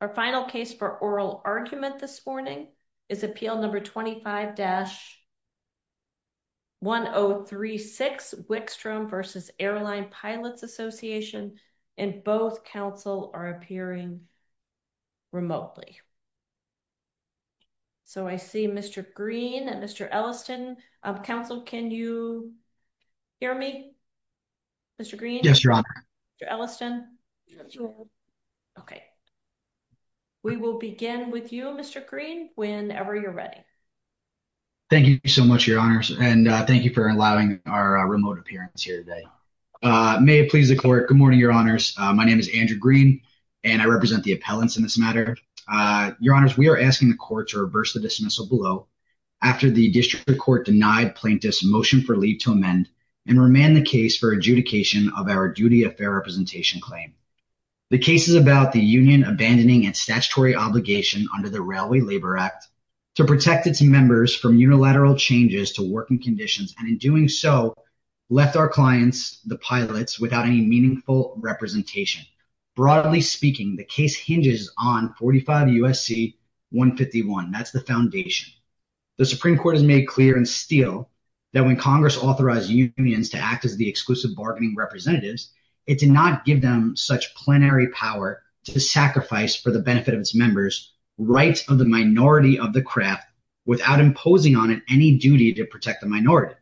Our final case for oral argument this morning is Appeal Number 25-1036 Wickstrom v. Air Line Pilots Association, and both counsel are appearing remotely. So, I see Mr. Green and Mr. Elliston. Counsel, can you hear me? Mr. Green? Yes, your honor. Mr. Elliston? Yes, your honor. We will begin with you, Mr. Green, whenever you're ready. Thank you so much, your honors, and thank you for allowing our remote appearance here today. May it please the court, good morning, your honors. My name is Andrew Green, and I represent the appellants in this matter. Your honors, we are asking the court to reverse the dismissal below after the district court denied plaintiffs' motion for leave to amend and remand the case for adjudication of our duty of fair representation claim. The case is about the union abandoning its statutory obligation under the Railway Labor Act to protect its members from unilateral changes to working conditions, and in doing so, left our clients, the pilots, without any meaningful representation. Broadly speaking, the case hinges on 45 U.S.C. 151. That's the foundation. The Supreme Court has made clear in Steele that when Congress authorized unions to act as the exclusive bargaining representatives, it did not give them such plenary power to sacrifice for the benefit of its members rights of the minority of the craft without imposing on it any duty to protect the minority.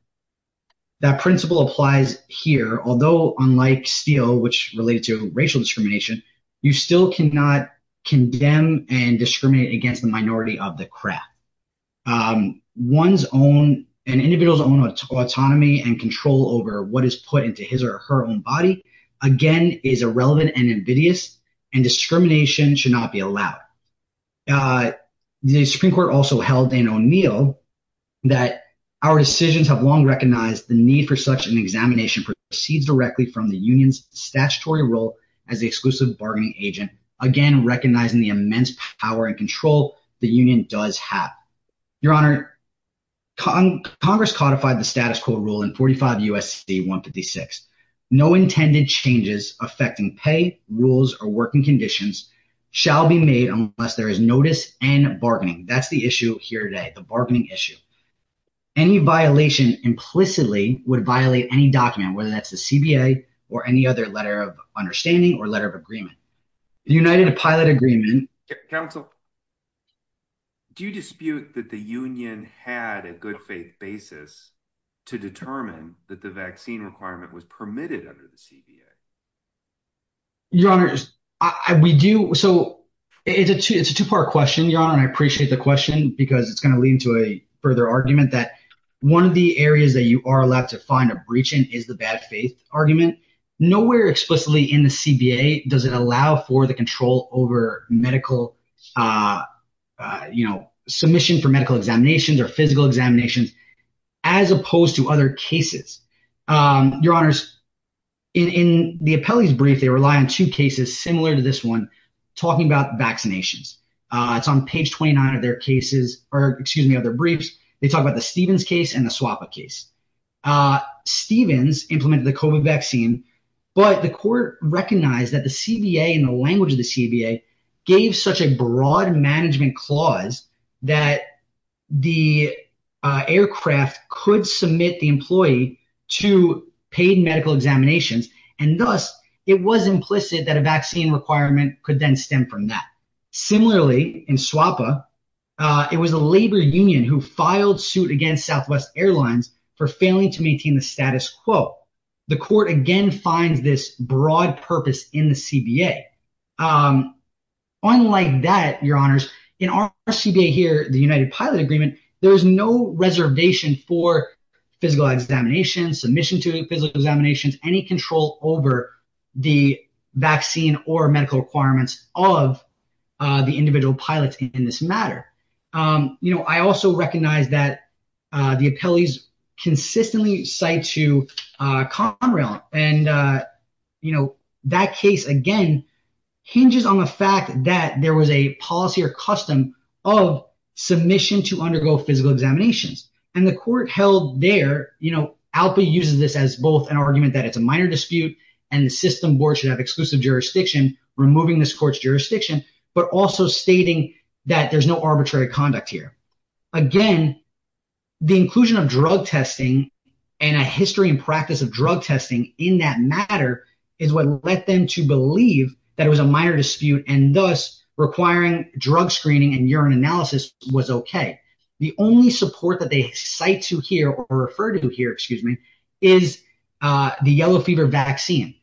That principle applies here, although unlike Steele, which related to racial discrimination, you still cannot condemn and discriminate against the minority of the craft. An individual's own autonomy and control over what is put into his or her own body, again, is irrelevant and invidious, and discrimination should not be allowed. The Supreme Court also held in O'Neill that our decisions have long recognized the need for such an examination proceeds directly from the union's statutory role as the exclusive bargaining agent, again, recognizing the immense power and control the union does have. Your Honor, Congress codified the status quo rule in 45 U.S.C. 156. No intended changes affecting pay, rules, or working conditions shall be made unless there is notice and bargaining. That's the issue here today, the bargaining issue. Any violation implicitly would violate any document, whether that's the CBA or any other letter of understanding or letter of agreement. United to pilot agreement. Counsel, do you dispute that the union had a good faith basis to determine that the vaccine requirement was permitted under the CBA? Your Honor, we do. So it's a two part question, Your Honor, and I appreciate the question because it's going to lead to a further argument that one of the areas that you are allowed to find a breach in is the bad faith argument. Nowhere explicitly in the CBA does it allow for the control over medical submission for medical examinations or physical examinations as opposed to other cases. Your Honors, in the appellee's brief, they rely on two cases similar to this one talking about vaccinations. It's on page 29 of their cases – or excuse me, of their briefs. They talk about the Stevens case and the Swappa case. Stevens implemented the COVID vaccine, but the court recognized that the CBA and the language of the CBA gave such a broad management clause that the aircraft could submit the employee to paid medical examinations. And thus, it was implicit that a vaccine requirement could then stem from that. Similarly, in Swappa, it was a labor union who filed suit against Southwest Airlines for failing to maintain the status quo. The court again finds this broad purpose in the CBA. Unlike that, Your Honors, in our CBA here, the United Pilot Agreement, there is no reservation for physical examinations, submission to physical examinations, any control over the vaccine or medical requirements of the individual pilots in this matter. I also recognize that the appellees consistently cite to Conrail, and that case, again, hinges on the fact that there was a policy or custom of submission to undergo physical examinations. And the court held there – ALPA uses this as both an argument that it's a minor dispute, and the system board should have exclusive jurisdiction removing this court's jurisdiction, but also stating that there's no arbitrary conduct here. Again, the inclusion of drug testing and a history and practice of drug testing in that matter is what led them to believe that it was a minor dispute and thus requiring drug screening and urine analysis was okay. The only support that they cite to here or refer to here, excuse me, is the yellow fever vaccine.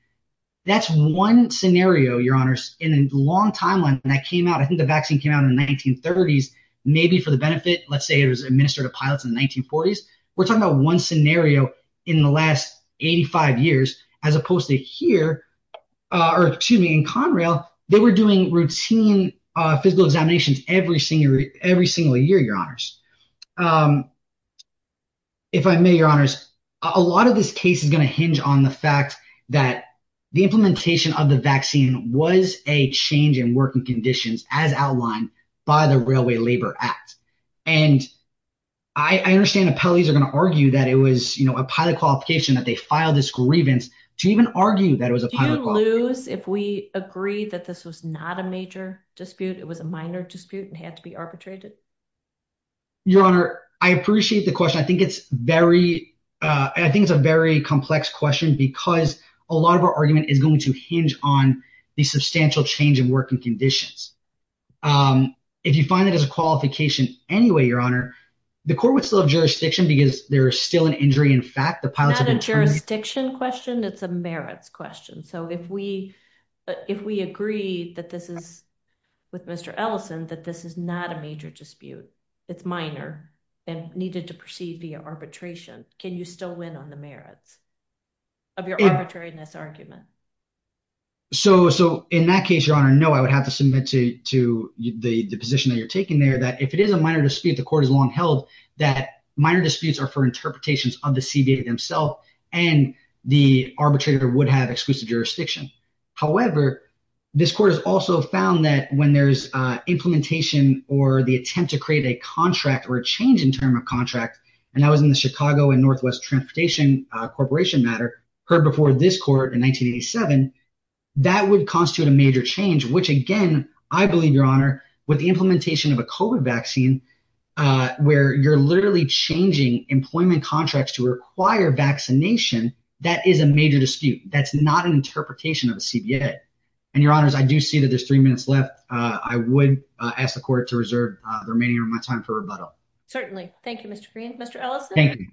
That's one scenario, Your Honors, in a long timeline that came out. I think the vaccine came out in the 1930s, maybe for the benefit. Let's say it was administered to pilots in the 1940s. We're talking about one scenario in the last 85 years as opposed to here – or excuse me, in Conrail, they were doing routine physical examinations every single year, Your Honors. If I may, Your Honors, a lot of this case is going to hinge on the fact that the implementation of the vaccine was a change in working conditions as outlined by the Railway Labor Act. And I understand appellees are going to argue that it was a pilot qualification, that they filed this grievance to even argue that it was a pilot qualification. Do you lose if we agree that this was not a major dispute? It was a minor dispute and had to be arbitrated? Your Honor, I appreciate the question. I think it's very – I think it's a very complex question because a lot of our argument is going to hinge on the substantial change in working conditions. If you find it as a qualification anyway, Your Honor, the court would still have jurisdiction because there is still an injury in fact. It's not a jurisdiction question. It's a merits question. So if we agree that this is – with Mr. Ellison that this is not a major dispute, it's minor and needed to proceed via arbitration, can you still win on the merits of your arbitrariness argument? So in that case, Your Honor, no. I would have to submit to the position that you're taking there that if it is a minor dispute, the court has long held that minor disputes are for interpretations of the CBA themselves, and the arbitrator would have exclusive jurisdiction. However, this court has also found that when there's implementation or the attempt to create a contract or a change in term of contract, and that was in the Chicago and Northwest Transportation Corporation matter heard before this court in 1987, that would constitute a major change, which again, I believe, Your Honor, with the implementation of a COVID vaccine where you're literally changing employment contracts to require vaccination, that is a major dispute. That's not an interpretation of the CBA. And Your Honors, I do see that there's three minutes left. I would ask the court to reserve the remaining of my time for rebuttal. Certainly. Thank you, Mr. Green. Mr. Ellison? Thank you.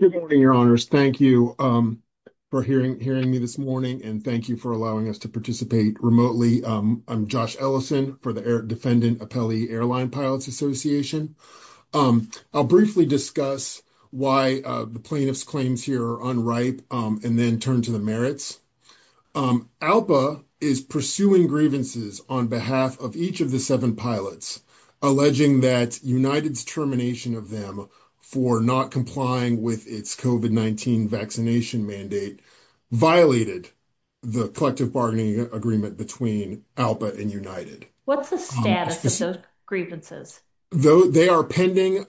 Good morning, Your Honors. Thank you for hearing me this morning, and thank you for allowing us to participate remotely. I'm Josh Ellison for the Air – Defendant Appellee Airline Pilots Association. I'll briefly discuss why the plaintiff's claims here are unripe and then turn to the merits. ALPA is pursuing grievances on behalf of each of the seven pilots, alleging that United's termination of them for not complying with its COVID-19 vaccination mandate violated the collective bargaining agreement between ALPA and United. What's the status of those grievances? They are pending.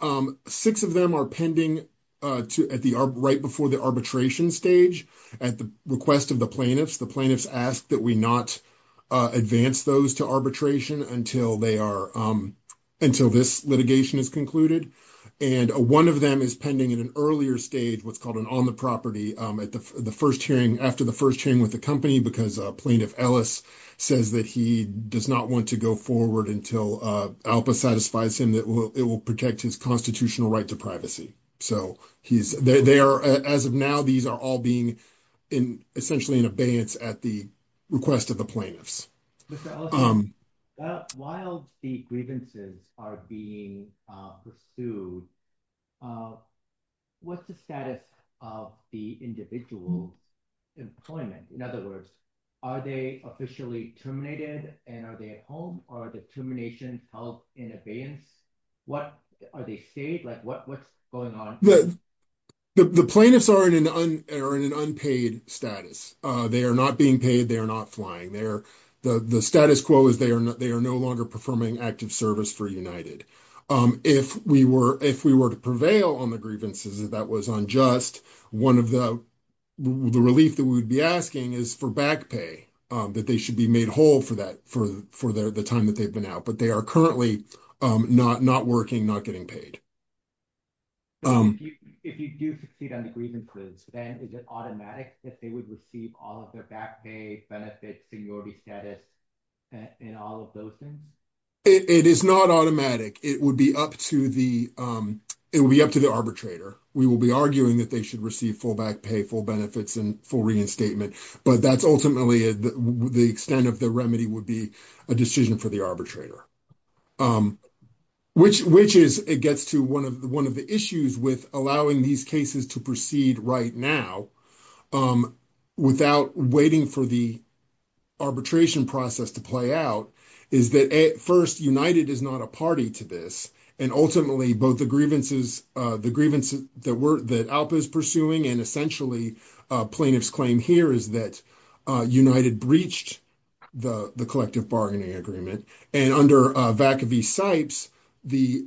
Six of them are pending right before the arbitration stage at the request of the plaintiffs. The plaintiffs ask that we not advance those to arbitration until they are – until this litigation is concluded. And one of them is pending at an earlier stage, what's called an on-the-property, at the first hearing – after the first hearing with the company, because Plaintiff Ellis says that he does not want to go forward until ALPA satisfies him that it will protect his constitutional right to privacy. So, he's – they are – as of now, these are all being in – essentially in abeyance at the request of the plaintiffs. Mr. Ellis, while the grievances are being pursued, what's the status of the individual employment? In other words, are they officially terminated and are they at home, or are the terminations held in abeyance? What – are they stayed? Like, what's going on? The plaintiffs are in an unpaid status. They are not being paid. They are not flying. They are – the status quo is they are no longer performing active service for United. If we were to prevail on the grievances, if that was unjust, one of the – the relief that we would be asking is for back pay, that they should be made whole for that – for the time that they've been out. But they are currently not working, not getting paid. If you do succeed on the grievances, then is it automatic that they would receive all of their back pay, benefits, seniority status, and all of those things? It is not automatic. It would be up to the – it would be up to the arbitrator. We will be arguing that they should receive full back pay, full benefits, and full reinstatement. But that's ultimately – the extent of the remedy would be a decision for the arbitrator. Which is – it gets to one of the issues with allowing these cases to proceed right now without waiting for the arbitration process to play out is that, first, United is not a party to this. And ultimately, both the grievances – the grievances that were – that ALPA is pursuing and essentially plaintiff's claim here is that United breached the collective bargaining agreement. And under Vacaville-Sipes, the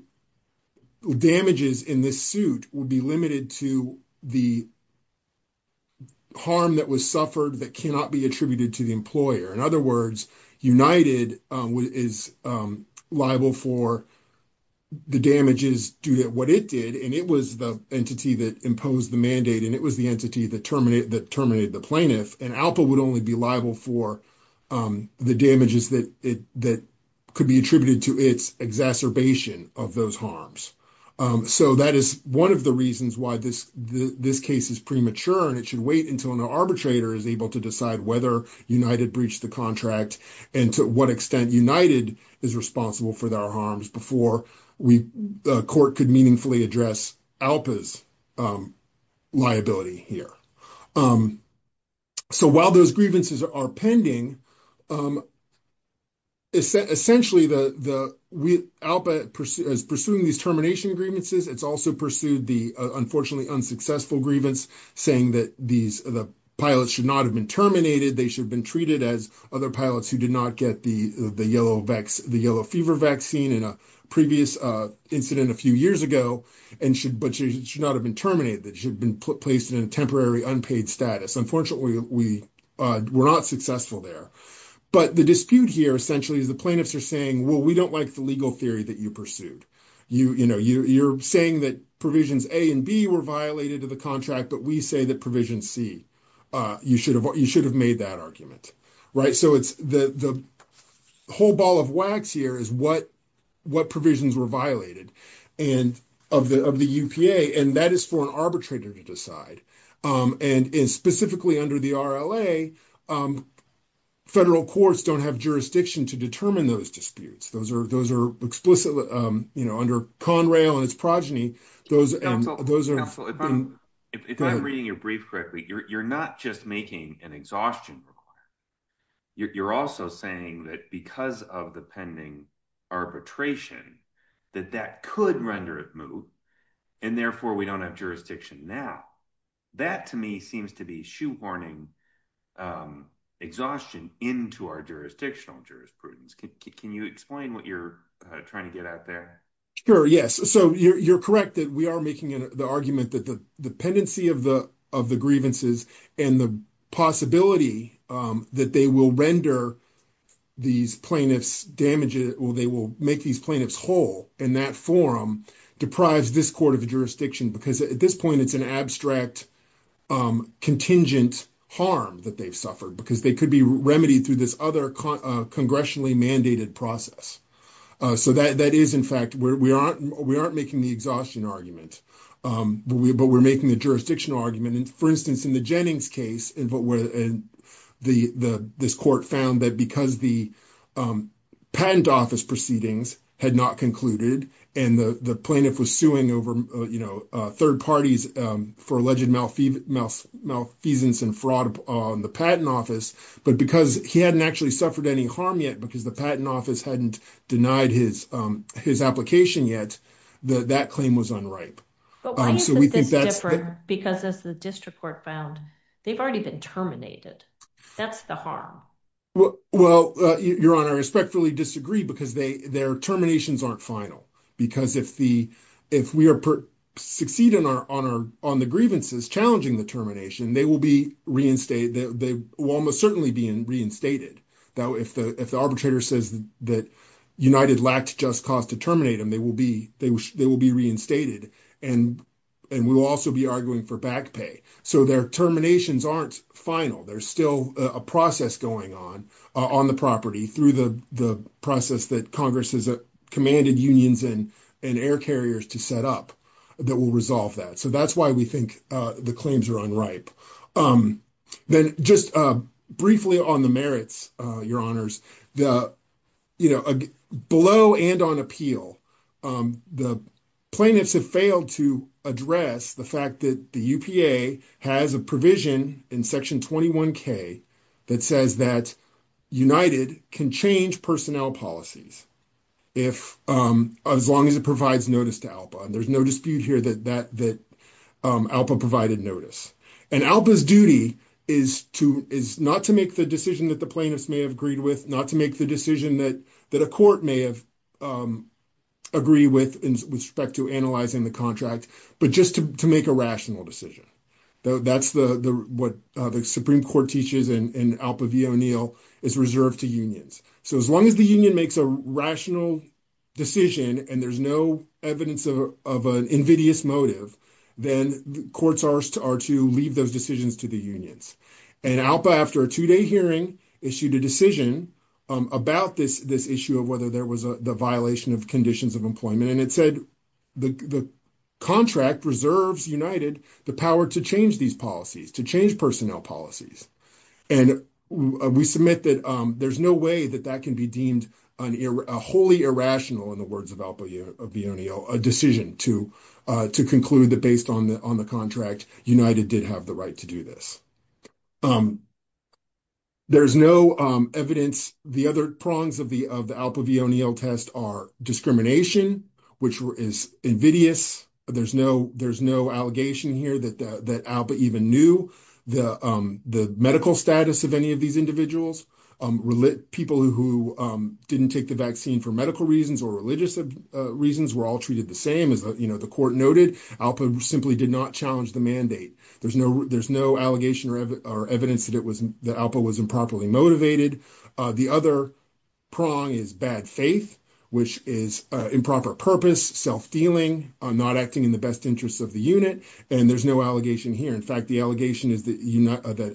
damages in this suit would be limited to the harm that was suffered that cannot be attributed to the employer. In other words, United is liable for the damages due to what it did, and it was the entity that imposed the mandate, and it was the entity that terminated the plaintiff. And ALPA would only be liable for the damages that could be attributed to its exacerbation of those harms. So that is one of the reasons why this case is premature, and it should wait until an arbitrator is able to decide whether United breached the contract and to what extent United is responsible for their harms before we – the court could meaningfully address ALPA's liability here. So while those grievances are pending, essentially the – ALPA is pursuing these termination grievances. It's also pursued the unfortunately unsuccessful grievance saying that these – the pilots should not have been terminated. They should have been treated as other pilots who did not get the yellow fever vaccine in a previous incident a few years ago and should – but should not have been terminated. They should have been placed in a temporary unpaid status. Unfortunately, we're not successful there. But the dispute here essentially is the plaintiffs are saying, well, we don't like the legal theory that you pursued. You know, you're saying that provisions A and B were violated of the contract, but we say that provision C, you should have made that argument, right? So it's the whole ball of wax here is what provisions were violated and – of the UPA, and that is for an arbitrator to decide. And specifically under the RLA, federal courts don't have jurisdiction to determine those disputes. Those are explicitly – you know, under Conrail and its progeny, those are – If I'm reading your brief correctly, you're not just making an exhaustion requirement. You're also saying that because of the pending arbitration, that that could render it moot, and therefore we don't have jurisdiction now. That to me seems to be shoehorning exhaustion into our jurisdictional jurisprudence. Can you explain what you're trying to get at there? Sure, yes. So you're correct that we are making the argument that the pendency of the grievances and the possibility that they will render these plaintiffs damaged – or they will make these plaintiffs whole in that forum deprives this court of jurisdiction because at this point it's an abstract contingent harm that they've suffered because they could be remedied through this other congressionally mandated process. So that is, in fact – we aren't making the exhaustion argument, but we're making the jurisdictional argument. For instance, in the Jennings case, this court found that because the patent office proceedings had not concluded and the plaintiff was suing over third parties for alleged malfeasance and fraud on the patent office, but because he hadn't actually suffered any harm yet because the patent office hadn't denied his application yet, that claim was unripe. But why is it this different? Because as the district court found, they've already been terminated. That's the harm. Well, Your Honor, I respectfully disagree because their terminations aren't final. Because if we succeed on the grievances challenging the termination, they will almost certainly be reinstated. If the arbitrator says that United lacked just cause to terminate them, they will be reinstated, and we will also be arguing for back pay. So their terminations aren't final. There's still a process going on on the property through the process that Congress has commanded unions and air carriers to set up that will resolve that. So that's why we think the claims are unripe. Then just briefly on the merits, Your Honors, below and on appeal, the plaintiffs have failed to address the fact that the UPA has a provision in Section 21K that says that United can change personnel policies as long as it provides notice to ALPA. There's no dispute here that ALPA provided notice. And ALPA's duty is not to make the decision that the plaintiffs may have agreed with, not to make the decision that a court may have agreed with with respect to analyzing the contract, but just to make a rational decision. That's what the Supreme Court teaches, and ALPA v. O'Neill is reserved to unions. So as long as the union makes a rational decision and there's no evidence of an invidious motive, then courts are to leave those decisions to the unions. And ALPA, after a two-day hearing, issued a decision about this issue of whether there was a violation of conditions of employment, and it said the contract reserves United the power to change these policies, to change personnel policies. And we submit that there's no way that that can be deemed wholly irrational in the words of ALPA v. O'Neill, a decision to conclude that based on the contract, United did have the right to do this. There's no evidence. The other prongs of the ALPA v. O'Neill test are discrimination, which is invidious. There's no allegation here that ALPA even knew the medical status of any of these individuals. People who didn't take the vaccine for medical reasons or religious reasons were all treated the same. As the court noted, ALPA simply did not challenge the mandate. There's no allegation or evidence that ALPA was improperly motivated. The other prong is bad faith, which is improper purpose, self-dealing, not acting in the best interests of the unit. And there's no allegation here. In fact, the allegation is that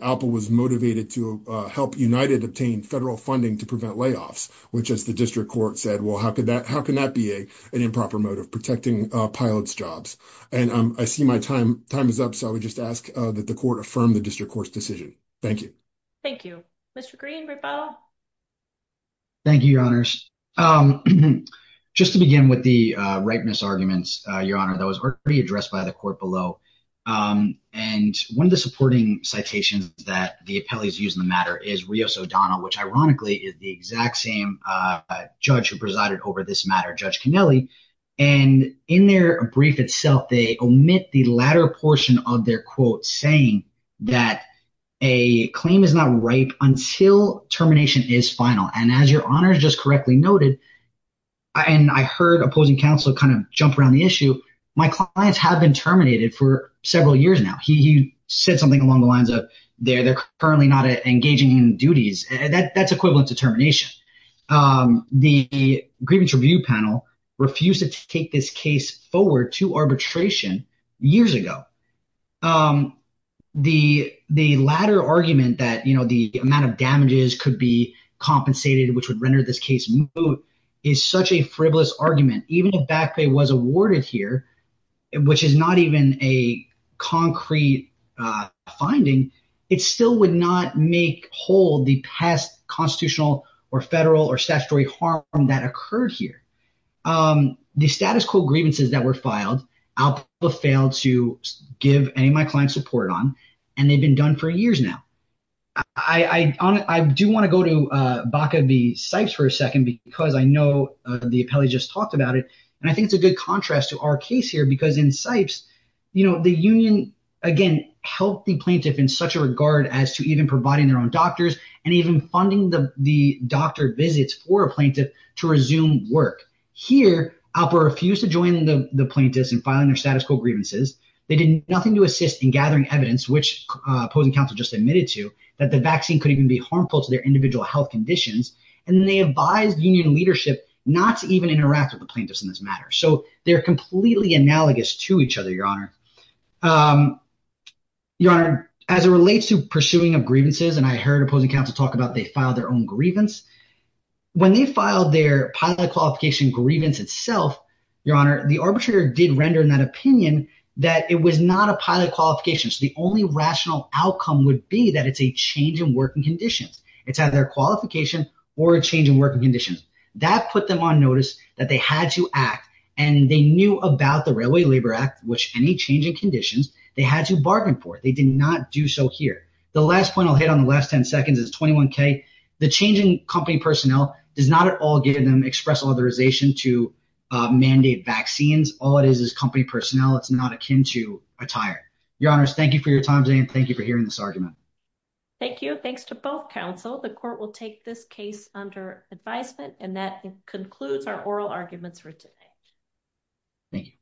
ALPA was motivated to help United obtain federal funding to prevent layoffs, which, as the district court said, well, how could that be an improper mode of protecting pilots' jobs? And I see my time is up, so I would just ask that the court affirm the district court's decision. Thank you. Thank you, Mr. Green. Thank you, Your Honors. Just to begin with the rightness arguments, Your Honor, that was already addressed by the court below. And one of the supporting citations that the appellees use in the matter is Rios O'Donnell, which ironically is the exact same judge who presided over this matter, Judge Kennelly. And in their brief itself, they omit the latter portion of their quote saying that a claim is not ripe until termination is final. And as Your Honor just correctly noted, and I heard opposing counsel kind of jump around the issue, my clients have been terminated for several years now. He said something along the lines of they're currently not engaging in duties. That's equivalent to termination. The grievance review panel refused to take this case forward to arbitration years ago. The latter argument that the amount of damages could be compensated, which would render this case moot, is such a frivolous argument. Even if back pay was awarded here, which is not even a concrete finding, it still would not make whole the past constitutional or federal or statutory harm that occurred here. The status quo grievances that were filed, I'll fail to give any of my clients support on, and they've been done for years now. I do want to go to Baca v. Sipes for a second because I know the appellee just talked about it. And I think it's a good contrast to our case here because in Sipes, the union, again, helped the plaintiff in such a regard as to even providing their own doctors and even funding the doctor visits for a plaintiff to resume work. Here, Alpa refused to join the plaintiffs in filing their status quo grievances. They did nothing to assist in gathering evidence, which opposing counsel just admitted to, that the vaccine could even be harmful to their individual health conditions. And they advised union leadership not to even interact with the plaintiffs in this matter. So they're completely analogous to each other, Your Honor. Your Honor, as it relates to pursuing of grievances, and I heard opposing counsel talk about they filed their own grievance. When they filed their pilot qualification grievance itself, Your Honor, the arbitrator did render in that opinion that it was not a pilot qualification. So the only rational outcome would be that it's a change in working conditions. It's either a qualification or a change in working conditions. That put them on notice that they had to act, and they knew about the Railway Labor Act, which any change in conditions, they had to bargain for. They did not do so here. The last point I'll hit on the last ten seconds is 21K. The change in company personnel does not at all give them express authorization to mandate vaccines. All it is is company personnel. It's not akin to attire. Your Honor, thank you for your time today, and thank you for hearing this argument. Thank you. Thanks to both counsel. The court will take this case under advisement, and that concludes our oral arguments for today. Thank you.